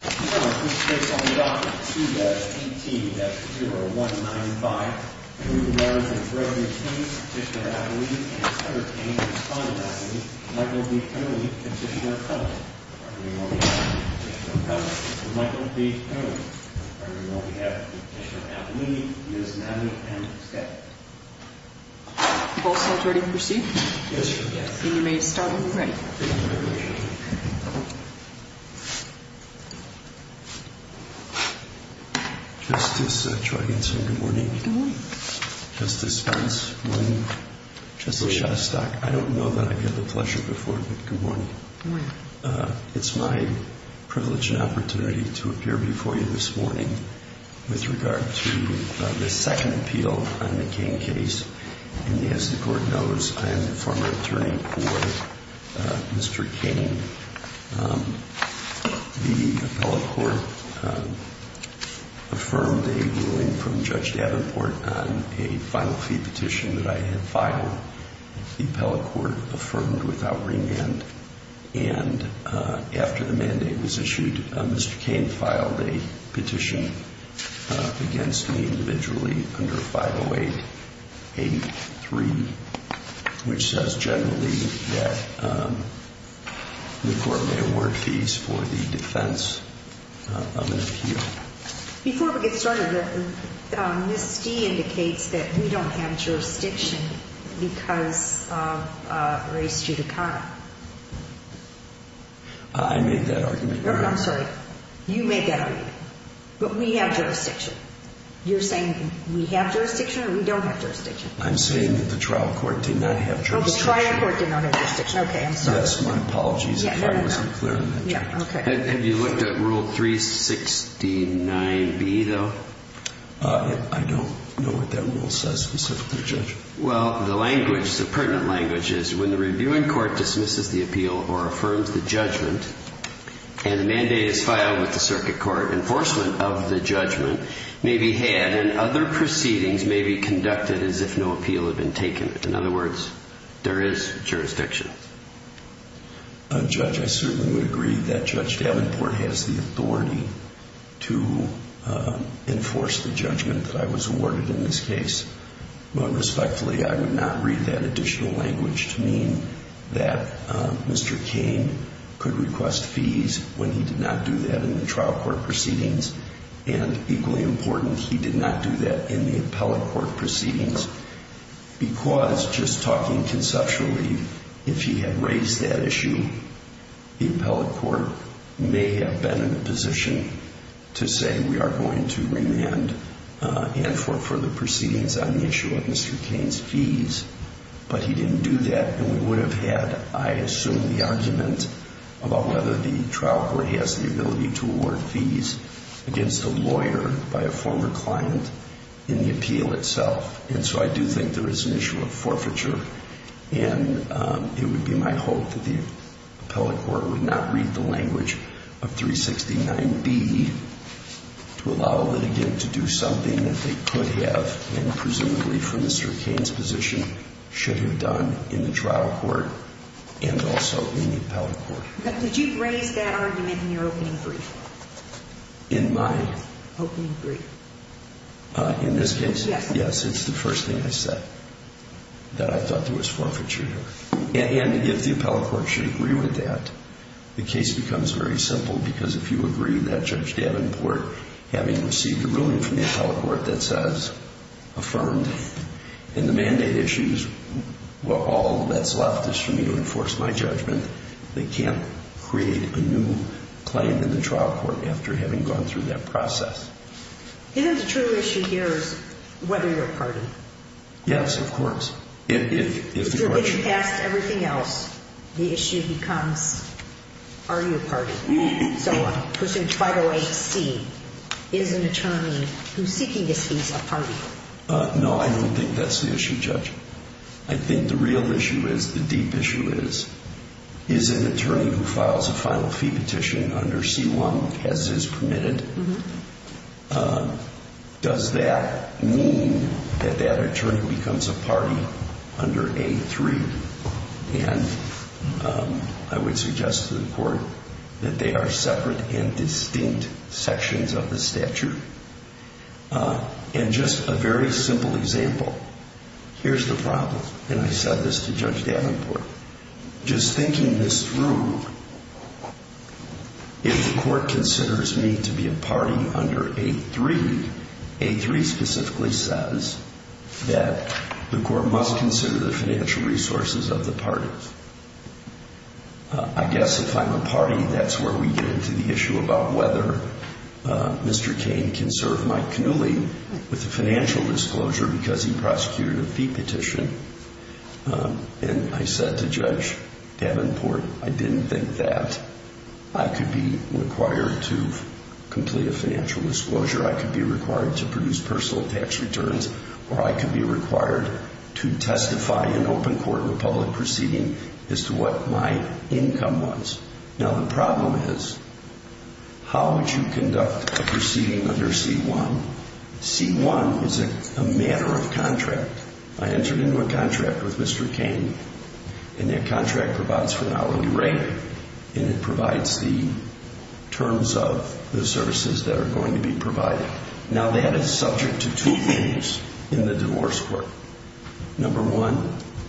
Case on the docket C-18-0195 Marriage of Brethren Kane, Petitioner Appellini and Sutter Kane, Respondent Appellini, Michael B. Appellini, Petitioner Appellini On behalf of the Petitioner Appellini, Mr. Michael B. Appellini. On behalf of the Petitioner Appellini, Ms. Natalie M. Scott. You both felt ready to proceed? Then you may start when you're ready. Justice Troganson, good morning. Good morning. Justice Spence, good morning. Good morning. Justice Shostack, I don't know that I've had the pleasure before, but good morning. Good morning. It's my privilege and opportunity to appear before you this morning with regard to the second appeal on the Kane case. And as the court knows, I am the former attorney for Mr. Kane. The appellate court affirmed a ruling from Judge Davenport on a final fee petition that I had filed. The appellate court affirmed without remand. And after the mandate was issued, Mr. Kane filed a petition against me individually under 50883, which says generally that the court may award fees for the defense of an appeal. Before we get started, Ms. Stee indicates that we don't have jurisdiction because of race judicata. I made that argument. No, I'm sorry. You made that argument. But we have jurisdiction. You're saying we have jurisdiction or we don't have jurisdiction? I'm saying that the trial court did not have jurisdiction. Oh, the trial court did not have jurisdiction. Okay, I'm sorry. Yes, my apologies if I wasn't clear on that. Have you looked at Rule 369B, though? I don't know what that rule says specifically, Judge. Well, the language, the pertinent language is when the reviewing court dismisses the appeal or affirms the judgment and the mandate is filed with the circuit court, enforcement of the judgment may be had and other proceedings may be conducted as if no appeal had been taken. In other words, there is jurisdiction. Judge, I certainly would agree that Judge Davenport has the authority to enforce the judgment that I was awarded in this case. But respectfully, I would not read that additional language to mean that Mr. Cain could request fees when he did not do that in the trial court proceedings. And equally important, he did not do that in the appellate court proceedings because, just talking conceptually, if he had raised that issue, the appellate court may have been in a position to say we are going to remand and for further proceedings on the issue of Mr. Cain's fees. But he didn't do that and we would have had, I assume, the argument about whether the trial court has the ability to award fees against a lawyer by a former client in the appeal itself. And so I do think there is an issue of forfeiture and it would be my hope that the appellate court would not read the language of 369B to allow a litigant to do something that they could have and presumably from Mr. Cain's position should have done in the trial court and also in the appellate court. But did you raise that argument in your opening brief? In my opening brief? In this case? Yes. Yes, it's the first thing I said, that I thought there was forfeiture here. And if the appellate court should agree with that, the case becomes very simple because if you agree that Judge Davenport, having received a ruling from the appellate court that says, and the mandate issues, all that's left is for me to enforce my judgment. They can't create a new claim in the trial court after having gone through that process. Isn't the true issue here is whether you're a party? Yes, of course. If you're getting past everything else, the issue becomes, are you a party? Pursuant to 508C, is an attorney who's seeking this fees a party? No, I don't think that's the issue, Judge. I think the real issue is, the deep issue is, is an attorney who files a final fee petition under C1, has his permitted, does that mean that that attorney becomes a party under A3? And I would suggest to the court that they are separate and distinct sections of the statute. And just a very simple example, here's the problem, and I said this to Judge Davenport, just thinking this through, if the court considers me to be a party under A3, A3 specifically says that the court must consider the financial resources of the parties. I guess if I'm a party, that's where we get into the issue about whether Mr. Cain can serve Mike Cannuli with a financial disclosure because he prosecuted a fee petition. And I said to Judge Davenport, I didn't think that I could be required to complete a financial disclosure. I could be required to produce personal tax returns, or I could be required to testify in open court in a public proceeding as to what my income was. Now the problem is, how would you conduct a proceeding under C1? C1 is a matter of contract. I entered into a contract with Mr. Cain, and that contract provides for an hourly rate, and it provides the terms of the services that are going to be provided. Now that is subject to two things in the divorce court. Number one,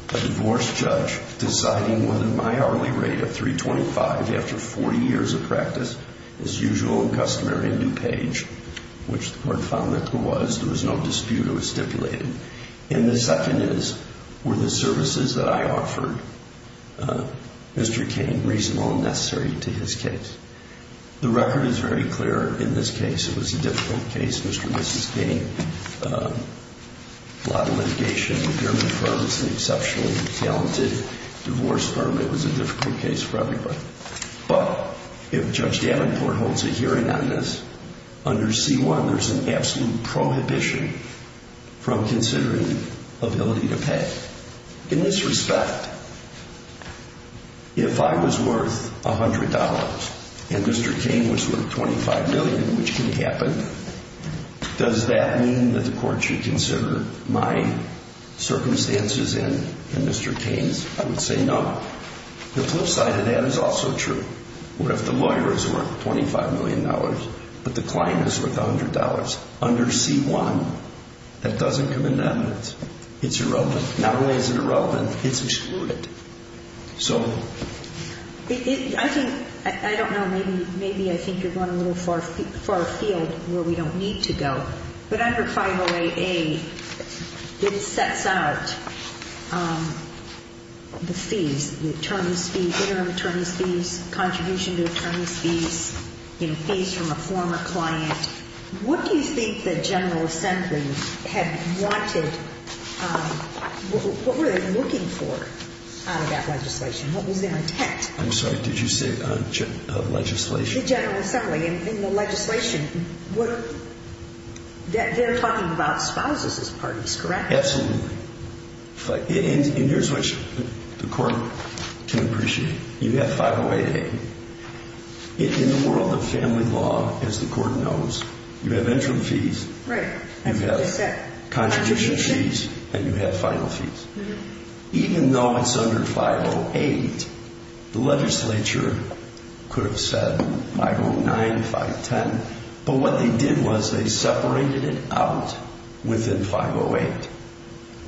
a divorce judge deciding whether my hourly rate of 325 after 40 years of practice is usual and customary and due page, which the court found that it was. There was no dispute, it was stipulated. And the second is, were the services that I offered Mr. Cain reasonable and necessary to his case? The record is very clear. In this case, it was a difficult case. Mr. and Mrs. Cain, a lot of litigation. The German firm is an exceptionally talented divorce firm. It was a difficult case for everybody. But if Judge Davenport holds a hearing on this, under C1 there's an absolute prohibition from considering ability to pay. In this respect, if I was worth $100 and Mr. Cain was worth $25 million, which can happen, does that mean that the court should consider my circumstances and Mr. Cain's? I would say no. The flip side of that is also true. What if the lawyer is worth $25 million, but the client is worth $100? Under C1, that doesn't come into evidence. It's irrelevant. Not only is it irrelevant, it's excluded. I don't know, maybe I think you're going a little far afield where we don't need to go. But under 508A, it sets out the fees, the attorney's fees, interim attorney's fees, contribution to attorney's fees, fees from a former client. What do you think the General Assembly had wanted? What were they looking for out of that legislation? What was their intent? I'm sorry, did you say legislation? The General Assembly. In the legislation, they're talking about spouses as parties, correct? Absolutely. Here's what the court can appreciate. You have 508A. In the world of family law, as the court knows, you have interim fees, you have contribution fees, and you have final fees. Even though it's under 508, the legislature could have said 509, 510, but what they did was they separated it out within 508.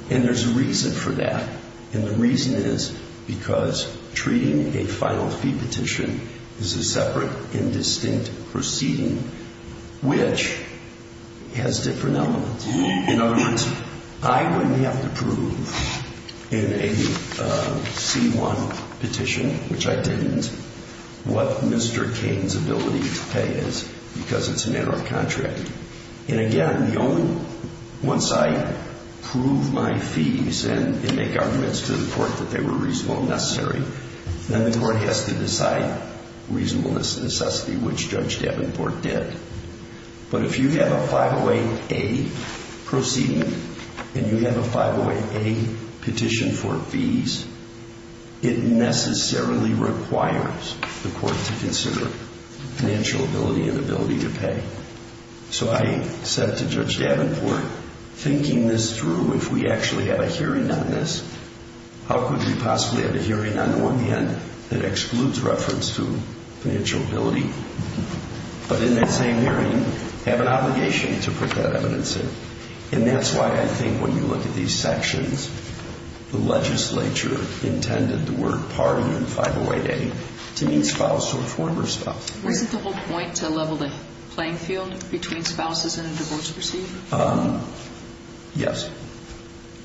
And there's a reason for that. And the reason is because treating a final fee petition is a separate, indistinct proceeding, which has different elements. In other words, I wouldn't have to prove in a C1 petition, which I didn't, what Mr. Cain's ability to pay is because it's a narrow contract. And again, once I prove my fees and make arguments to the court that they were reasonable and necessary, then the court has to decide reasonableness and necessity, which Judge Davenport did. But if you have a 508A proceeding and you have a 508A petition for fees, it necessarily requires the court to consider financial ability and ability to pay. So I said to Judge Davenport, thinking this through, if we actually have a hearing on this, how could we possibly have a hearing on the one hand that excludes reference to financial ability, but in that same hearing have an obligation to put that evidence in? And that's why I think when you look at these sections, the legislature intended the word party in 508A to mean spouse or former spouse. Wasn't the whole point to level the playing field between spouses and a divorce proceeding? Yes,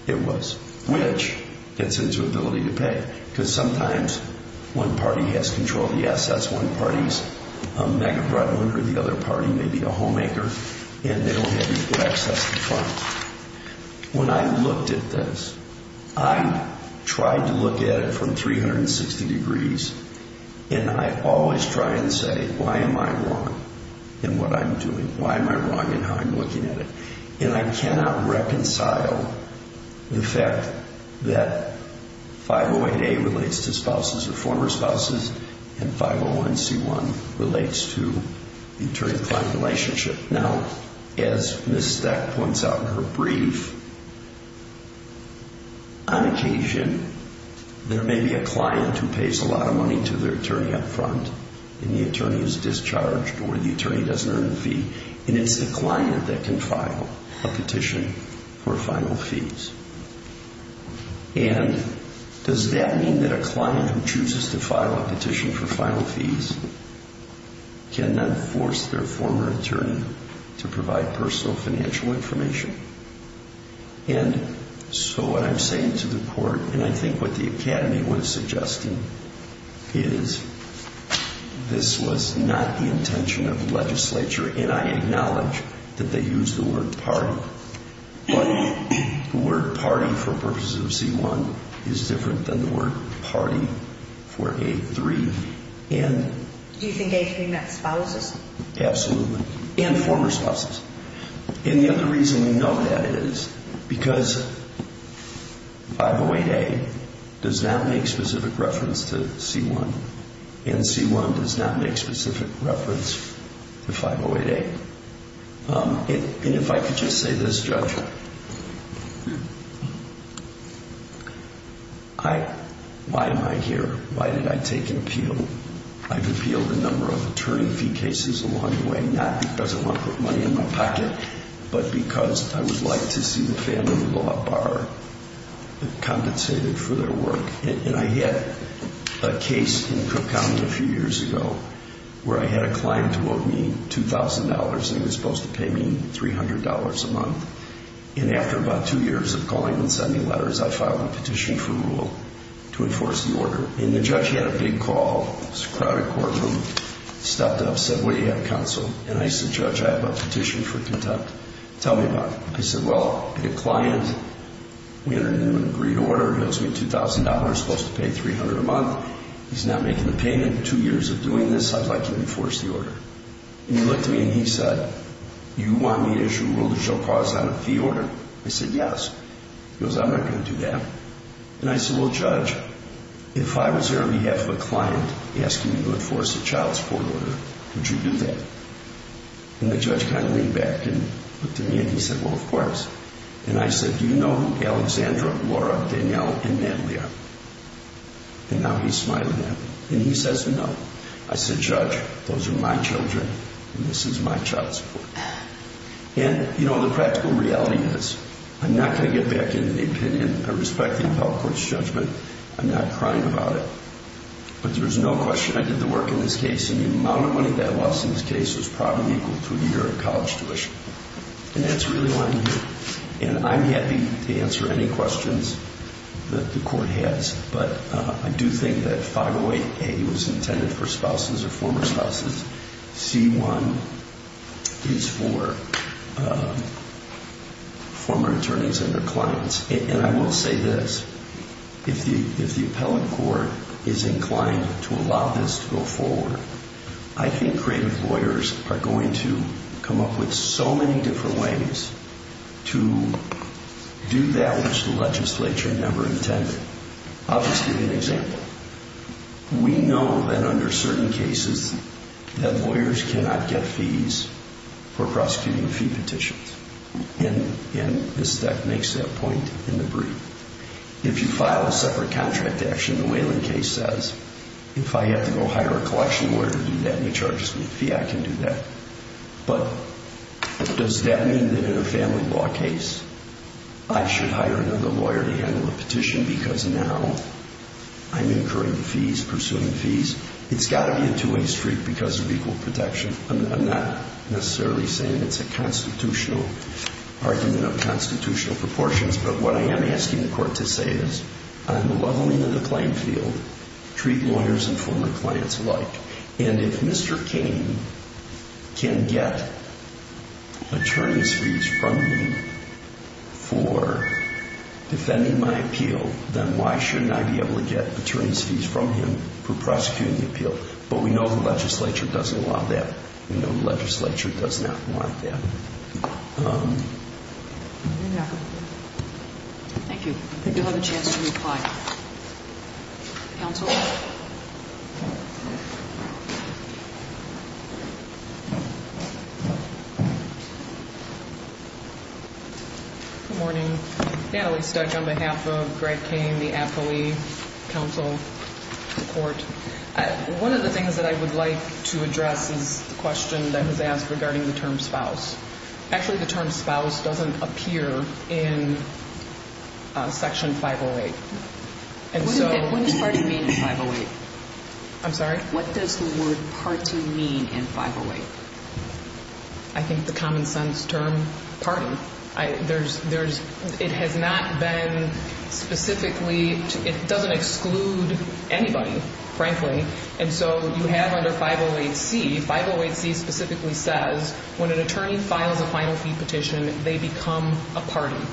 it was. Which gets into ability to pay, because sometimes one party has control of the assets, that's one party's mega breadwinner, the other party may be a homemaker, and they don't have equal access to funds. When I looked at this, I tried to look at it from 360 degrees, and I always try and say, why am I wrong in what I'm doing? Why am I wrong in how I'm looking at it? And I cannot reconcile the fact that 508A relates to spouses or former spouses, and 501C1 relates to the attorney-client relationship. Now, as Ms. Stack points out in her brief, on occasion, there may be a client who pays a lot of money to their attorney up front, and the attorney is discharged or the attorney doesn't earn the fee, and it's the client that can file a petition for final fees. And does that mean that a client who chooses to file a petition for final fees cannot force their former attorney to provide personal financial information? And so what I'm saying to the court, and I think what the Academy was suggesting, is this was not the intention of the legislature, and I acknowledge that they used the word party, but the word party for purposes of C1 is different than the word party for A3. Do you think A3 meant spouses? Absolutely, and former spouses. And the other reason we know that is because 508A does not make specific reference to C1, and C1 does not make specific reference to 508A. And if I could just say this, Judge, why am I here? Why did I take an appeal? I've appealed a number of attorney fee cases along the way, not because I want to put money in my pocket, but because I would like to see the family law bar compensated for their work. And I had a case in Cook County a few years ago where I had a client who owed me $2,000, and he was supposed to pay me $300 a month. And after about two years of calling and sending letters, I filed a petition for rule to enforce the order. And the judge had a big call. It was a crowded courtroom. He stepped up, said, what do you have, counsel? And I said, Judge, I have a petition for contempt. Tell me about it. He said, well, I have a client. We entered into an agreed order. He owes me $2,000. He's supposed to pay $300 a month. He's not making the payment. Two years of doing this, I'd like to enforce the order. And he looked at me and he said, you want me to issue a rule that shall cause not a fee order? I said, yes. He goes, I'm not going to do that. And I said, well, Judge, if I was there on behalf of a client asking you to enforce a child support order, would you do that? And the judge kind of leaned back and looked at me and he said, well, of course. And I said, do you know who Alexandra, Laura, Danielle, and Natalie are? And now he's smiling at me. And he says, no. I said, Judge, those are my children and this is my child support. And, you know, the practical reality is I'm not going to get back into the opinion and I respect the appellate court's judgment. I'm not crying about it. But there's no question I did the work in this case. And the amount of money that I lost in this case was probably equal to a year of college tuition. And that's really why I'm here. And I'm happy to answer any questions that the court has. But I do think that 508A was intended for spouses or former spouses. C-1 is for former attorneys and their clients. And I will say this. If the appellate court is inclined to allow this to go forward, I think creative lawyers are going to come up with so many different ways to do that which the legislature never intended. I'll just give you an example. We know that under certain cases that lawyers cannot get fees for prosecuting fee petitions. And this makes that point in the brief. If you file a separate contract action, the Wayland case says, if I have to go hire a collection lawyer to do that and he charges me a fee, I can do that. But does that mean that in a family law case I should hire another lawyer to handle a petition because now I'm incurring fees, pursuing fees? It's got to be a two-way street because of equal protection. I'm not necessarily saying it's a constitutional argument of constitutional proportions, but what I am asking the court to say is I'm leveling the claim field. Treat lawyers and former clients alike. And if Mr. Kane can get attorney's fees from me for defending my appeal, then why shouldn't I be able to get attorney's fees from him for prosecuting the appeal? But we know the legislature doesn't want that. We know the legislature does not want that. Thank you. I think you'll have a chance to reply. Counsel? Good morning. Natalie Stutch on behalf of Greg Kane, the affilee, counsel, the court. One of the things that I would like to address is the question that was asked regarding the term spouse. Actually, the term spouse doesn't appear in Section 508. What does party mean in 508? I'm sorry? What does the word party mean in 508? I think the common sense term party. It has not been specifically, it doesn't exclude anybody, frankly. And so you have under 508C, 508C specifically says when an attorney files a final fee petition, they become a party.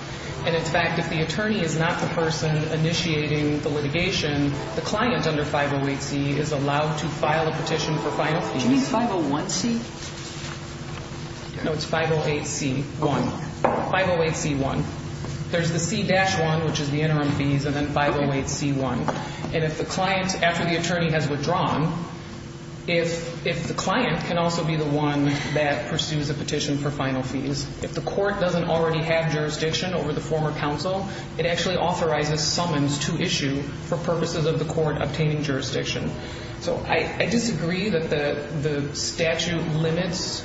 And, in fact, if the attorney is not the person initiating the litigation, the client under 508C is allowed to file a petition for final fees. Do you mean 501C? No, it's 508C1, 508C1. There's the C-1, which is the interim fees, and then 508C1. And if the client, after the attorney has withdrawn, if the client can also be the one that pursues a petition for final fees, if the court doesn't already have jurisdiction over the former counsel, it actually authorizes summons to issue for purposes of the court obtaining jurisdiction. So I disagree that the statute limits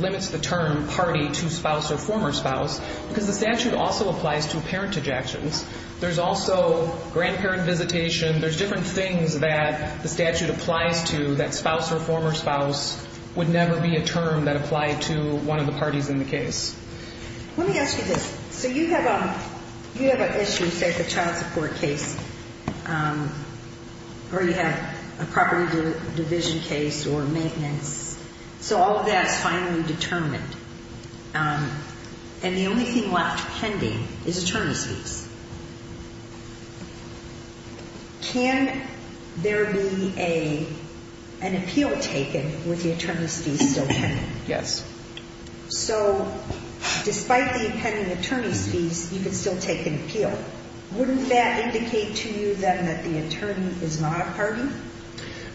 the term party to spouse or former spouse, because the statute also applies to parentage actions. There's also grandparent visitation. There's different things that the statute applies to that spouse or former spouse would never be a term that applied to one of the parties in the case. Let me ask you this. So you have an issue, say, with a child support case, or you have a property division case or maintenance. So all of that is finally determined. And the only thing left pending is attorney's fees. Can there be an appeal taken with the attorney's fees still pending? Yes. So despite the pending attorney's fees, you can still take an appeal. Wouldn't that indicate to you then that the attorney is not a party?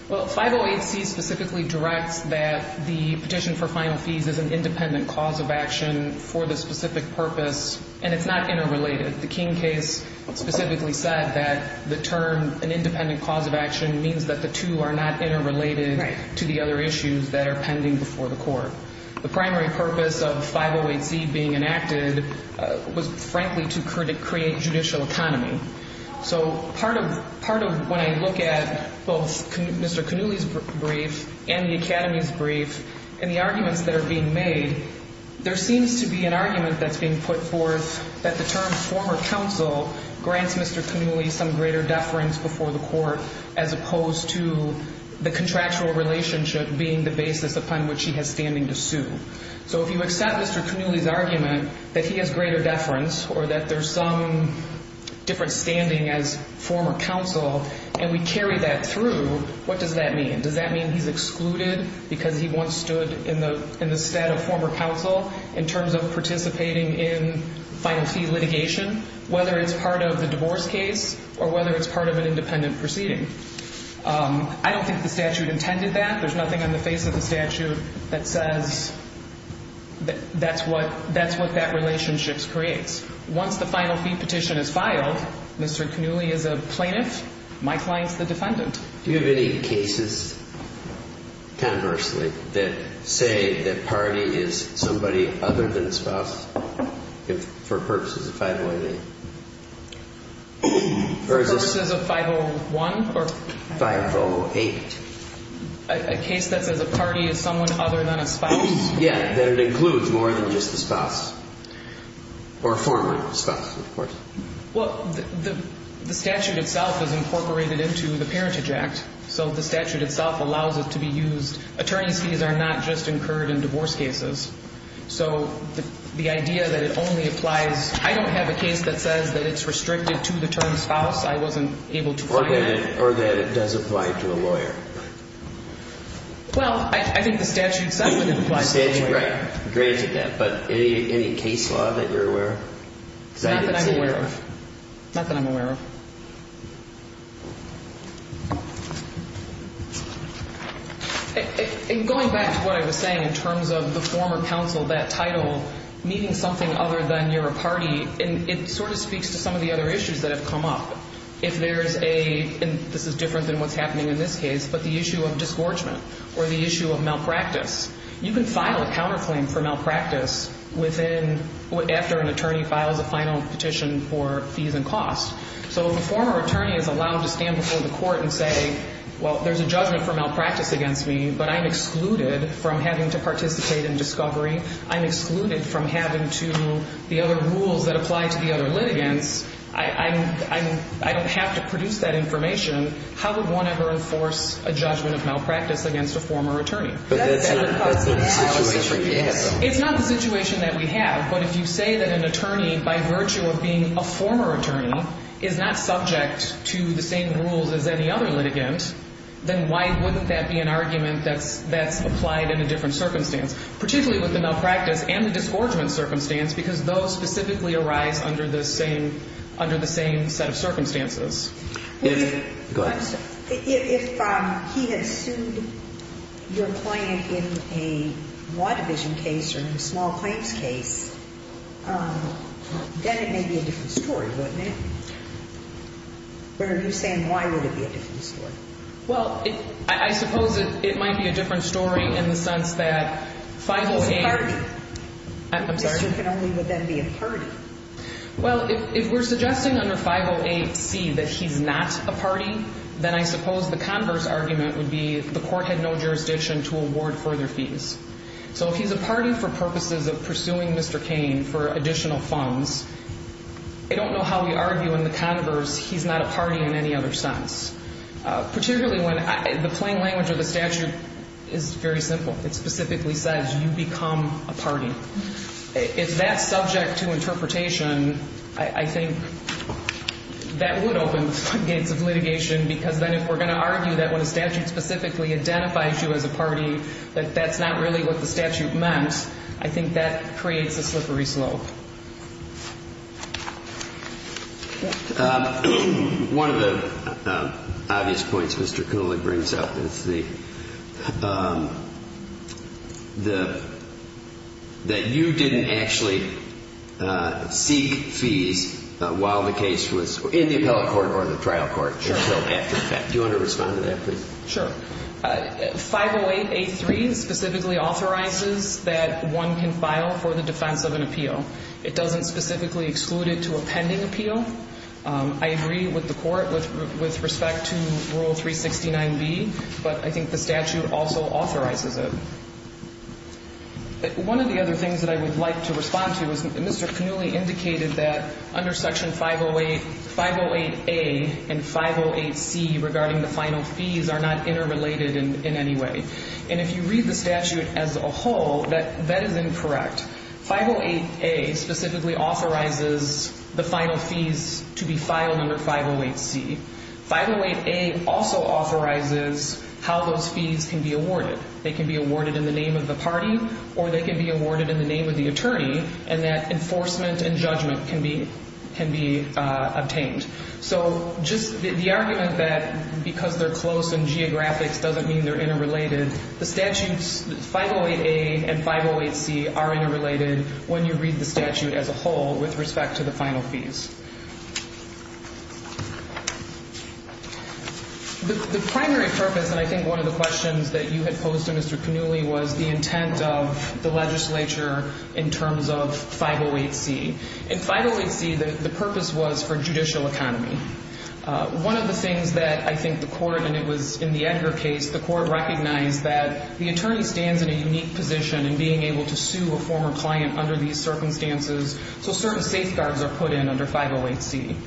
Well, 508C specifically directs that the petition for final fees is an independent cause of action for the specific purpose, and it's not interrelated. The King case specifically said that the term an independent cause of action means that the two are not interrelated to the other issues that are pending before the court. The primary purpose of 508C being enacted was, frankly, to create judicial autonomy. So part of when I look at both Mr. Cannulli's brief and the Academy's brief and the arguments that are being made, there seems to be an argument that's being put forth that the term former counsel grants Mr. Cannulli some greater deference before the court as opposed to the contractual relationship being the basis upon which he has standing to sue. So if you accept Mr. Cannulli's argument that he has greater deference or that there's some different standing as former counsel and we carry that through, what does that mean? Does that mean he's excluded because he once stood in the stead of former counsel in terms of participating in final fee litigation, whether it's part of the divorce case or whether it's part of an independent proceeding? I don't think the statute intended that. There's nothing on the face of the statute that says that's what that relationship creates. Once the final fee petition is filed, Mr. Cannulli is a plaintiff. My client's the defendant. Do you have any cases, conversely, that say the party is somebody other than the spouse for purposes of 508? For purposes of 501 or? 508. A case that says a party is someone other than a spouse? Yeah, that it includes more than just the spouse or former spouse, of course. Well, the statute itself is incorporated into the Parentage Act. So the statute itself allows it to be used. Attorney's fees are not just incurred in divorce cases. So the idea that it only applies – I don't have a case that says that it's restricted to the term spouse. I wasn't able to find that. Or that it does apply to a lawyer. Well, I think the statute says that it applies to a lawyer. Right, granted that. But any case law that you're aware of? Not that I'm aware of. Not that I'm aware of. In going back to what I was saying in terms of the former counsel, that title, meeting something other than you're a party, it sort of speaks to some of the other issues that have come up. If there's a – and this is different than what's happening in this case – but the issue of disgorgement or the issue of malpractice. You can file a counterclaim for malpractice within – after an attorney files a final petition for fees and costs. So if a former attorney is allowed to stand before the court and say, well, there's a judgment for malpractice against me, but I'm excluded from having to participate in discovery, I'm excluded from having to – the other rules that apply to the other litigants, I don't have to produce that information. How would one ever enforce a judgment of malpractice against a former attorney? But that's sort of the situation we have. It's not the situation that we have. But if you say that an attorney, by virtue of being a former attorney, is not subject to the same rules as any other litigant, then why wouldn't that be an argument that's applied in a different circumstance? Particularly with the malpractice and the disgorgement circumstance, because those specifically arise under the same set of circumstances. Go ahead. If he had sued your client in a law division case or in a small claims case, then it may be a different story, wouldn't it? What are you saying? Why would it be a different story? Well, I suppose it might be a different story in the sense that 508 – He's a party. I'm sorry? He can only then be a party. Well, if we're suggesting under 508C that he's not a party, then I suppose the converse argument would be the court had no jurisdiction to award further fees. So if he's a party for purposes of pursuing Mr. Cain for additional funds, I don't know how we argue in the converse he's not a party in any other sense. Particularly when the plain language of the statute is very simple. It specifically says you become a party. If that's subject to interpretation, I think that would open the gates of litigation, because then if we're going to argue that when a statute specifically identifies you as a party, that that's not really what the statute meant, I think that creates a slippery slope. One of the obvious points Mr. Cooley brings up is the – that you didn't actually seek fees while the case was in the appellate court or the trial court. Sure. Do you want to respond to that, please? Sure. 508A3 specifically authorizes that one can file for the defense of an appeal. It doesn't specifically exclude it to a pending appeal. I agree with the court with respect to Rule 369B, but I think the statute also authorizes it. One of the other things that I would like to respond to is Mr. Cain indicated that under Section 508A and 508C regarding the final fees are not interrelated in any way. And if you read the statute as a whole, that is incorrect. 508A specifically authorizes the final fees to be filed under 508C. 508A also authorizes how those fees can be awarded. They can be awarded in the name of the party or they can be awarded in the name of the attorney and that enforcement and judgment can be obtained. So just the argument that because they're close in geographics doesn't mean they're interrelated, the statutes 508A and 508C are interrelated when you read the statute as a whole with respect to the final fees. The primary purpose, and I think one of the questions that you had posed to Mr. Cannulli, was the intent of the legislature in terms of 508C. In 508C, the purpose was for judicial economy. One of the things that I think the court, and it was in the Edgar case, the court recognized that the attorney stands in a unique position in being able to sue a former client under these circumstances, so certain safeguards are put in under 508C.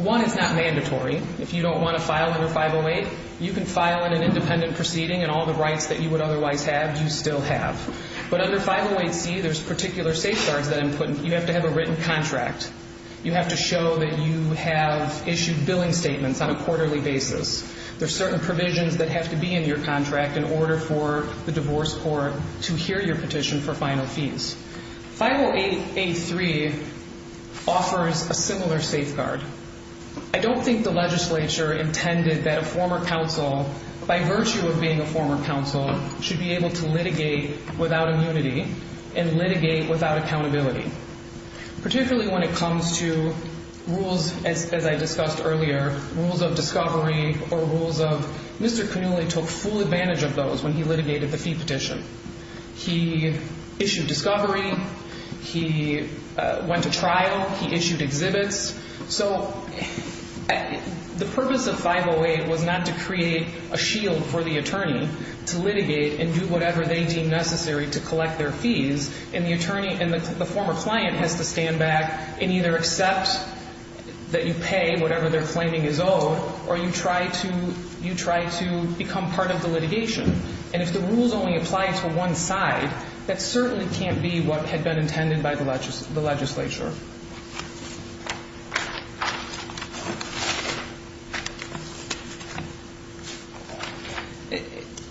One, it's not mandatory. If you don't want to file under 508, you can file in an independent proceeding and all the rights that you would otherwise have, you still have. But under 508C, there's particular safeguards that you have to have a written contract. You have to show that you have issued billing statements on a quarterly basis. There's certain provisions that have to be in your contract in order for the divorce court to hear your petition for final fees. 508A3 offers a similar safeguard. I don't think the legislature intended that a former counsel, by virtue of being a former counsel, should be able to litigate without immunity and litigate without accountability, particularly when it comes to rules, as I discussed earlier, rules of discovery or rules of Mr. Cannulli took full advantage of those when he litigated the fee petition. He issued discovery. He went to trial. He issued exhibits. So the purpose of 508 was not to create a shield for the attorney to litigate and do whatever they deemed necessary to collect their fees, and the attorney and the former client has to stand back and either accept that you pay whatever their claiming is owed or you try to become part of the litigation. And if the rules only apply to one side, that certainly can't be what had been intended by the legislature.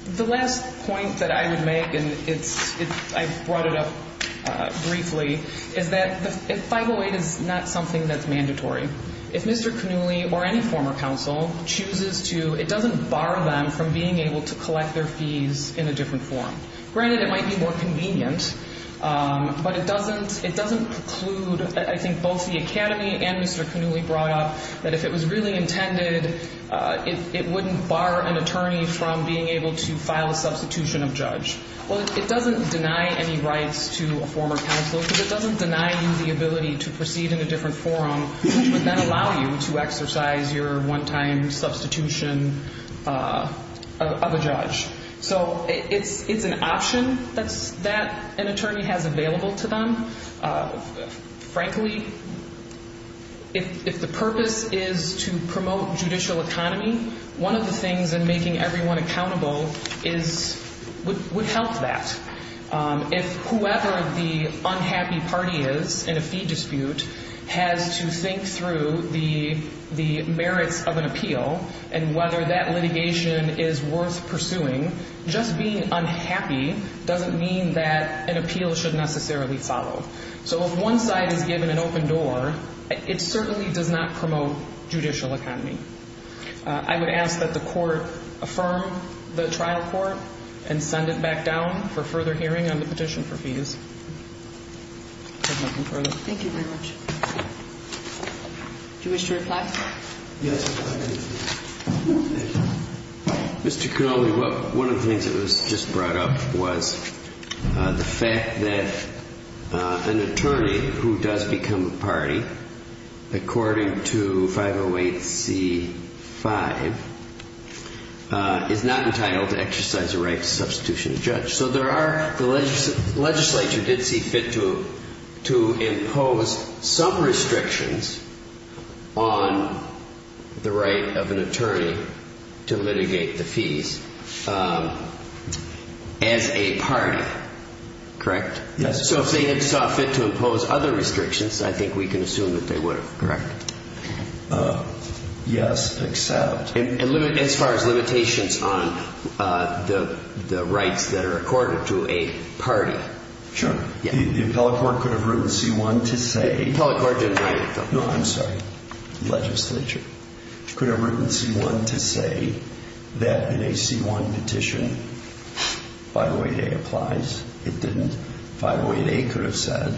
The last point that I would make, and I've brought it up briefly, is that 508 is not something that's mandatory. If Mr. Cannulli or any former counsel chooses to, it doesn't bar them from being able to collect their fees in a different form. Granted, it might be more convenient, but it doesn't preclude I think both the Academy and Mr. Cannulli brought up that if it was really intended, it wouldn't bar an attorney from being able to file a substitution of judge. Well, it doesn't deny any rights to a former counsel because it doesn't deny you the ability to proceed in a different forum, which would then allow you to exercise your one-time substitution of a judge. So it's an option that an attorney has available to them. Frankly, if the purpose is to promote judicial economy, one of the things in making everyone accountable would help that. If whoever the unhappy party is in a fee dispute has to think through the merits of an appeal and whether that litigation is worth pursuing, just being unhappy doesn't mean that an appeal should necessarily follow. So if one side is given an open door, it certainly does not promote judicial economy. I would ask that the court affirm the trial court and send it back down for further hearing on the petition for fees. If there's nothing further. Thank you very much. Do you wish to reply? Yes. Mr. Connolly, one of the things that was just brought up was the fact that an attorney who does become a party, according to 508c-5, is not entitled to exercise the right to substitution of judge. So there are the legislature did see fit to impose some restrictions on the right of an attorney to litigate the fees as a party. Correct? Yes. So if they had saw fit to impose other restrictions, I think we can assume that they would have. Correct. Yes, except... As far as limitations on the rights that are accorded to a party. Sure. The appellate court could have written C-1 to say... The appellate court didn't write it, though. No, I'm sorry. The legislature could have written C-1 to say that in a C-1 petition 508a applies. It didn't. 508a could have said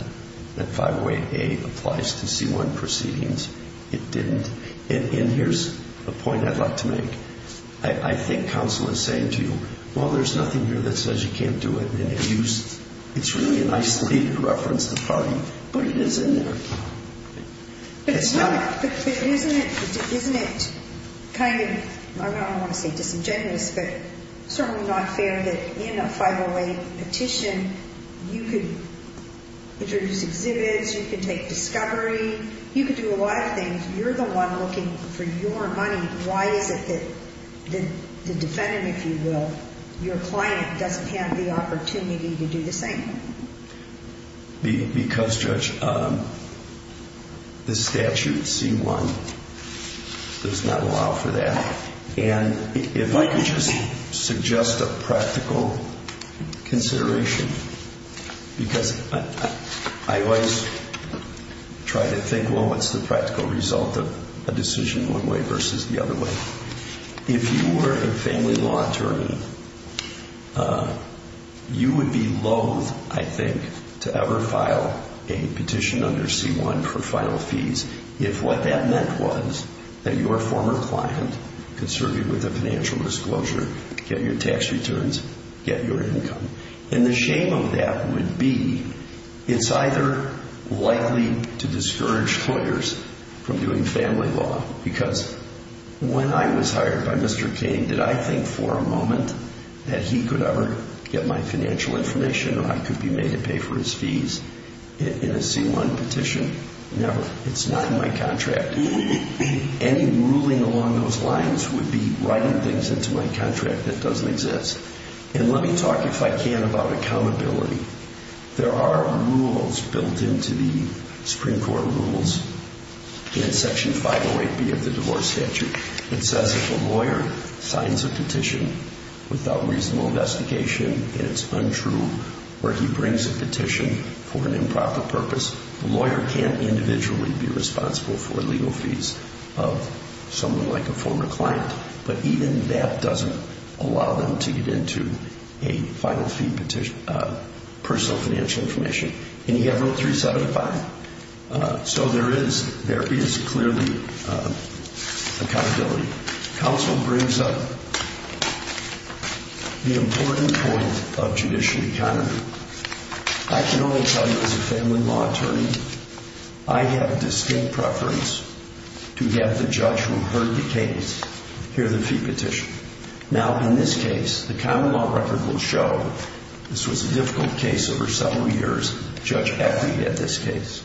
that 508a applies to C-1 proceedings. It didn't. And here's a point I'd like to make. I think counsel is saying to you, well, there's nothing here that says you can't do it. It's really an isolated reference to the party, but it is in there. But isn't it kind of, I don't want to say disingenuous, but certainly not fair that in a 508 petition you could introduce exhibits, you could take discovery, you could do a lot of things. You're the one looking for your money. Why is it that the defendant, if you will, your client doesn't have the opportunity to do the same? Because, Judge, the statute C-1 does not allow for that. And if I could just suggest a practical consideration, because I always try to think, well, what's the practical result of a decision one way versus the other way. If you were a family law attorney, you would be loathe, I think, to ever file a petition under C-1 for final fees if what that meant was that your former client could serve you with a financial disclosure, get your tax returns, get your income. And the shame of that would be it's either likely to discourage lawyers from doing family law, because when I was hired by Mr. King, did I think for a moment that he could ever get my financial information or I could be made to pay for his fees in a C-1 petition? Never. It's not in my contract. Any ruling along those lines would be writing things into my contract that doesn't exist. And let me talk, if I can, about accountability. There are rules built into the Supreme Court rules in Section 508B of the divorce statute that says if a lawyer signs a petition without reasonable investigation, and it's untrue, or he brings a petition for an improper purpose, the lawyer can't individually be responsible for legal fees of someone like a former client. But even that doesn't allow them to get into a final fee petition of personal financial information. And you have Rule 375. So there is clearly accountability. Counsel brings up the important point of judicial economy. I can only tell you as a family law attorney, I have distinct preference to have the judge who heard the case hear the fee petition. Now, in this case, the common law record will show this was a difficult case over several years. Judge Eckrey had this case.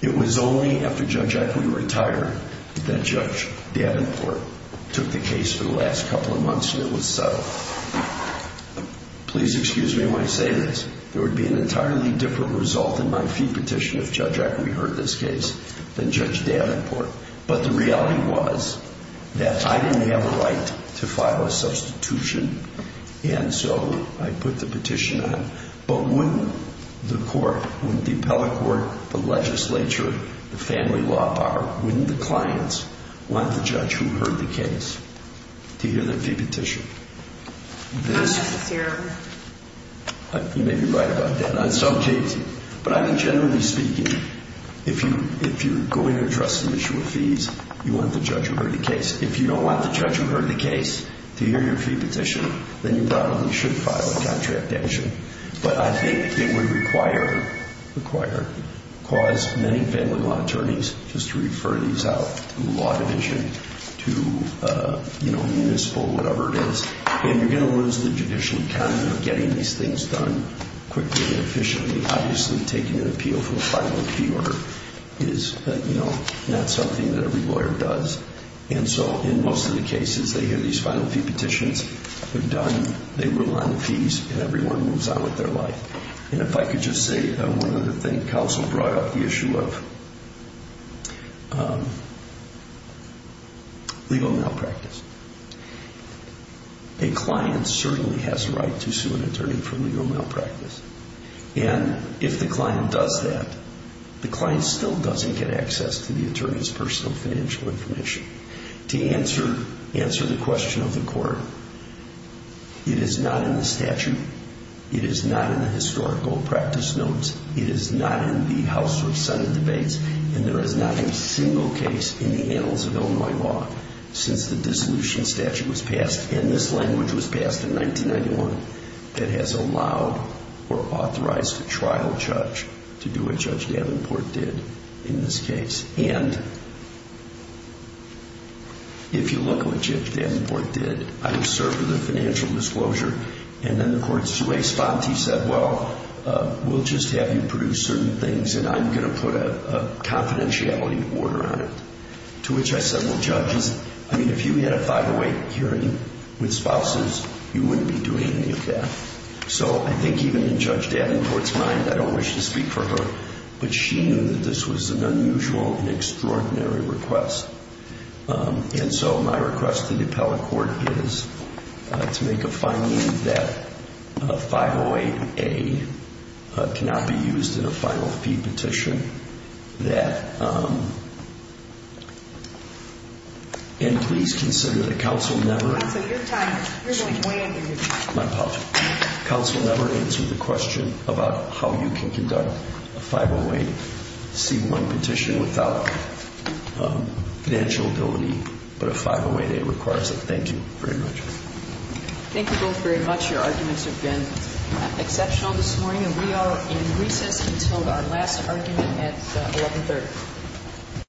It was only after Judge Eckrey retired that Judge Davenport took the case for the last couple of months and it was settled. Please excuse me when I say this. There would be an entirely different result in my fee petition if Judge Eckrey heard this case than Judge Davenport. But the reality was that I didn't have a right to file a substitution, and so I put the petition on. But wouldn't the court, wouldn't the appellate court, the legislature, the family law bar, wouldn't the clients want the judge who heard the case to hear the fee petition? Not necessarily. You may be right about that on some cases. But I mean, generally speaking, if you're going to address an issue of fees, you want the judge who heard the case. If you don't want the judge who heard the case to hear your fee petition, then you probably should file a contract action. But I think it would require, cause many family law attorneys just to refer these out to the law division, to the municipal, whatever it is. of getting these things done quickly and efficiently. Obviously taking an appeal for a final fee order is not something that every lawyer does. And so in most of the cases, they hear these final fee petitions, they're done, they rule on the fees, and everyone moves on with their life. And if I could just say one other thing. Counsel brought up the issue of legal malpractice. A client certainly has a right to sue an attorney for legal malpractice. And if the client does that, the client still doesn't get access to the attorney's personal financial information. To answer the question of the court, it is not in the statute, it is not in the historical practice notes, it is not in the House or Senate debates, and there is not a single case in the annals of Illinois law since the dissolution statute was passed. And this language was passed in 1991 that has allowed or authorized a trial judge to do what Judge Davenport did in this case. And if you look at what Judge Davenport did, I observed the financial disclosure, and then the court's response, he said, well, we'll just have you produce certain things and I'm going to put a confidentiality order on it. To which I said, well, judges, I mean, if you had a 508 hearing with spouses, you wouldn't be doing any of that. So I think even in Judge Davenport's mind, I don't wish to speak for her, but she knew that this was an unusual and extraordinary request. And so my request to the appellate court is to make a finding that 508A cannot be used in a final fee petition. And please consider the counsel never... My apologies. Counsel never answered the question about how you can conduct a 508C1 petition without financial ability, but a 508A requires it. Thank you very much. Thank you both very much. Your arguments have been exceptional this morning, and we are in recess until our last argument at 1130.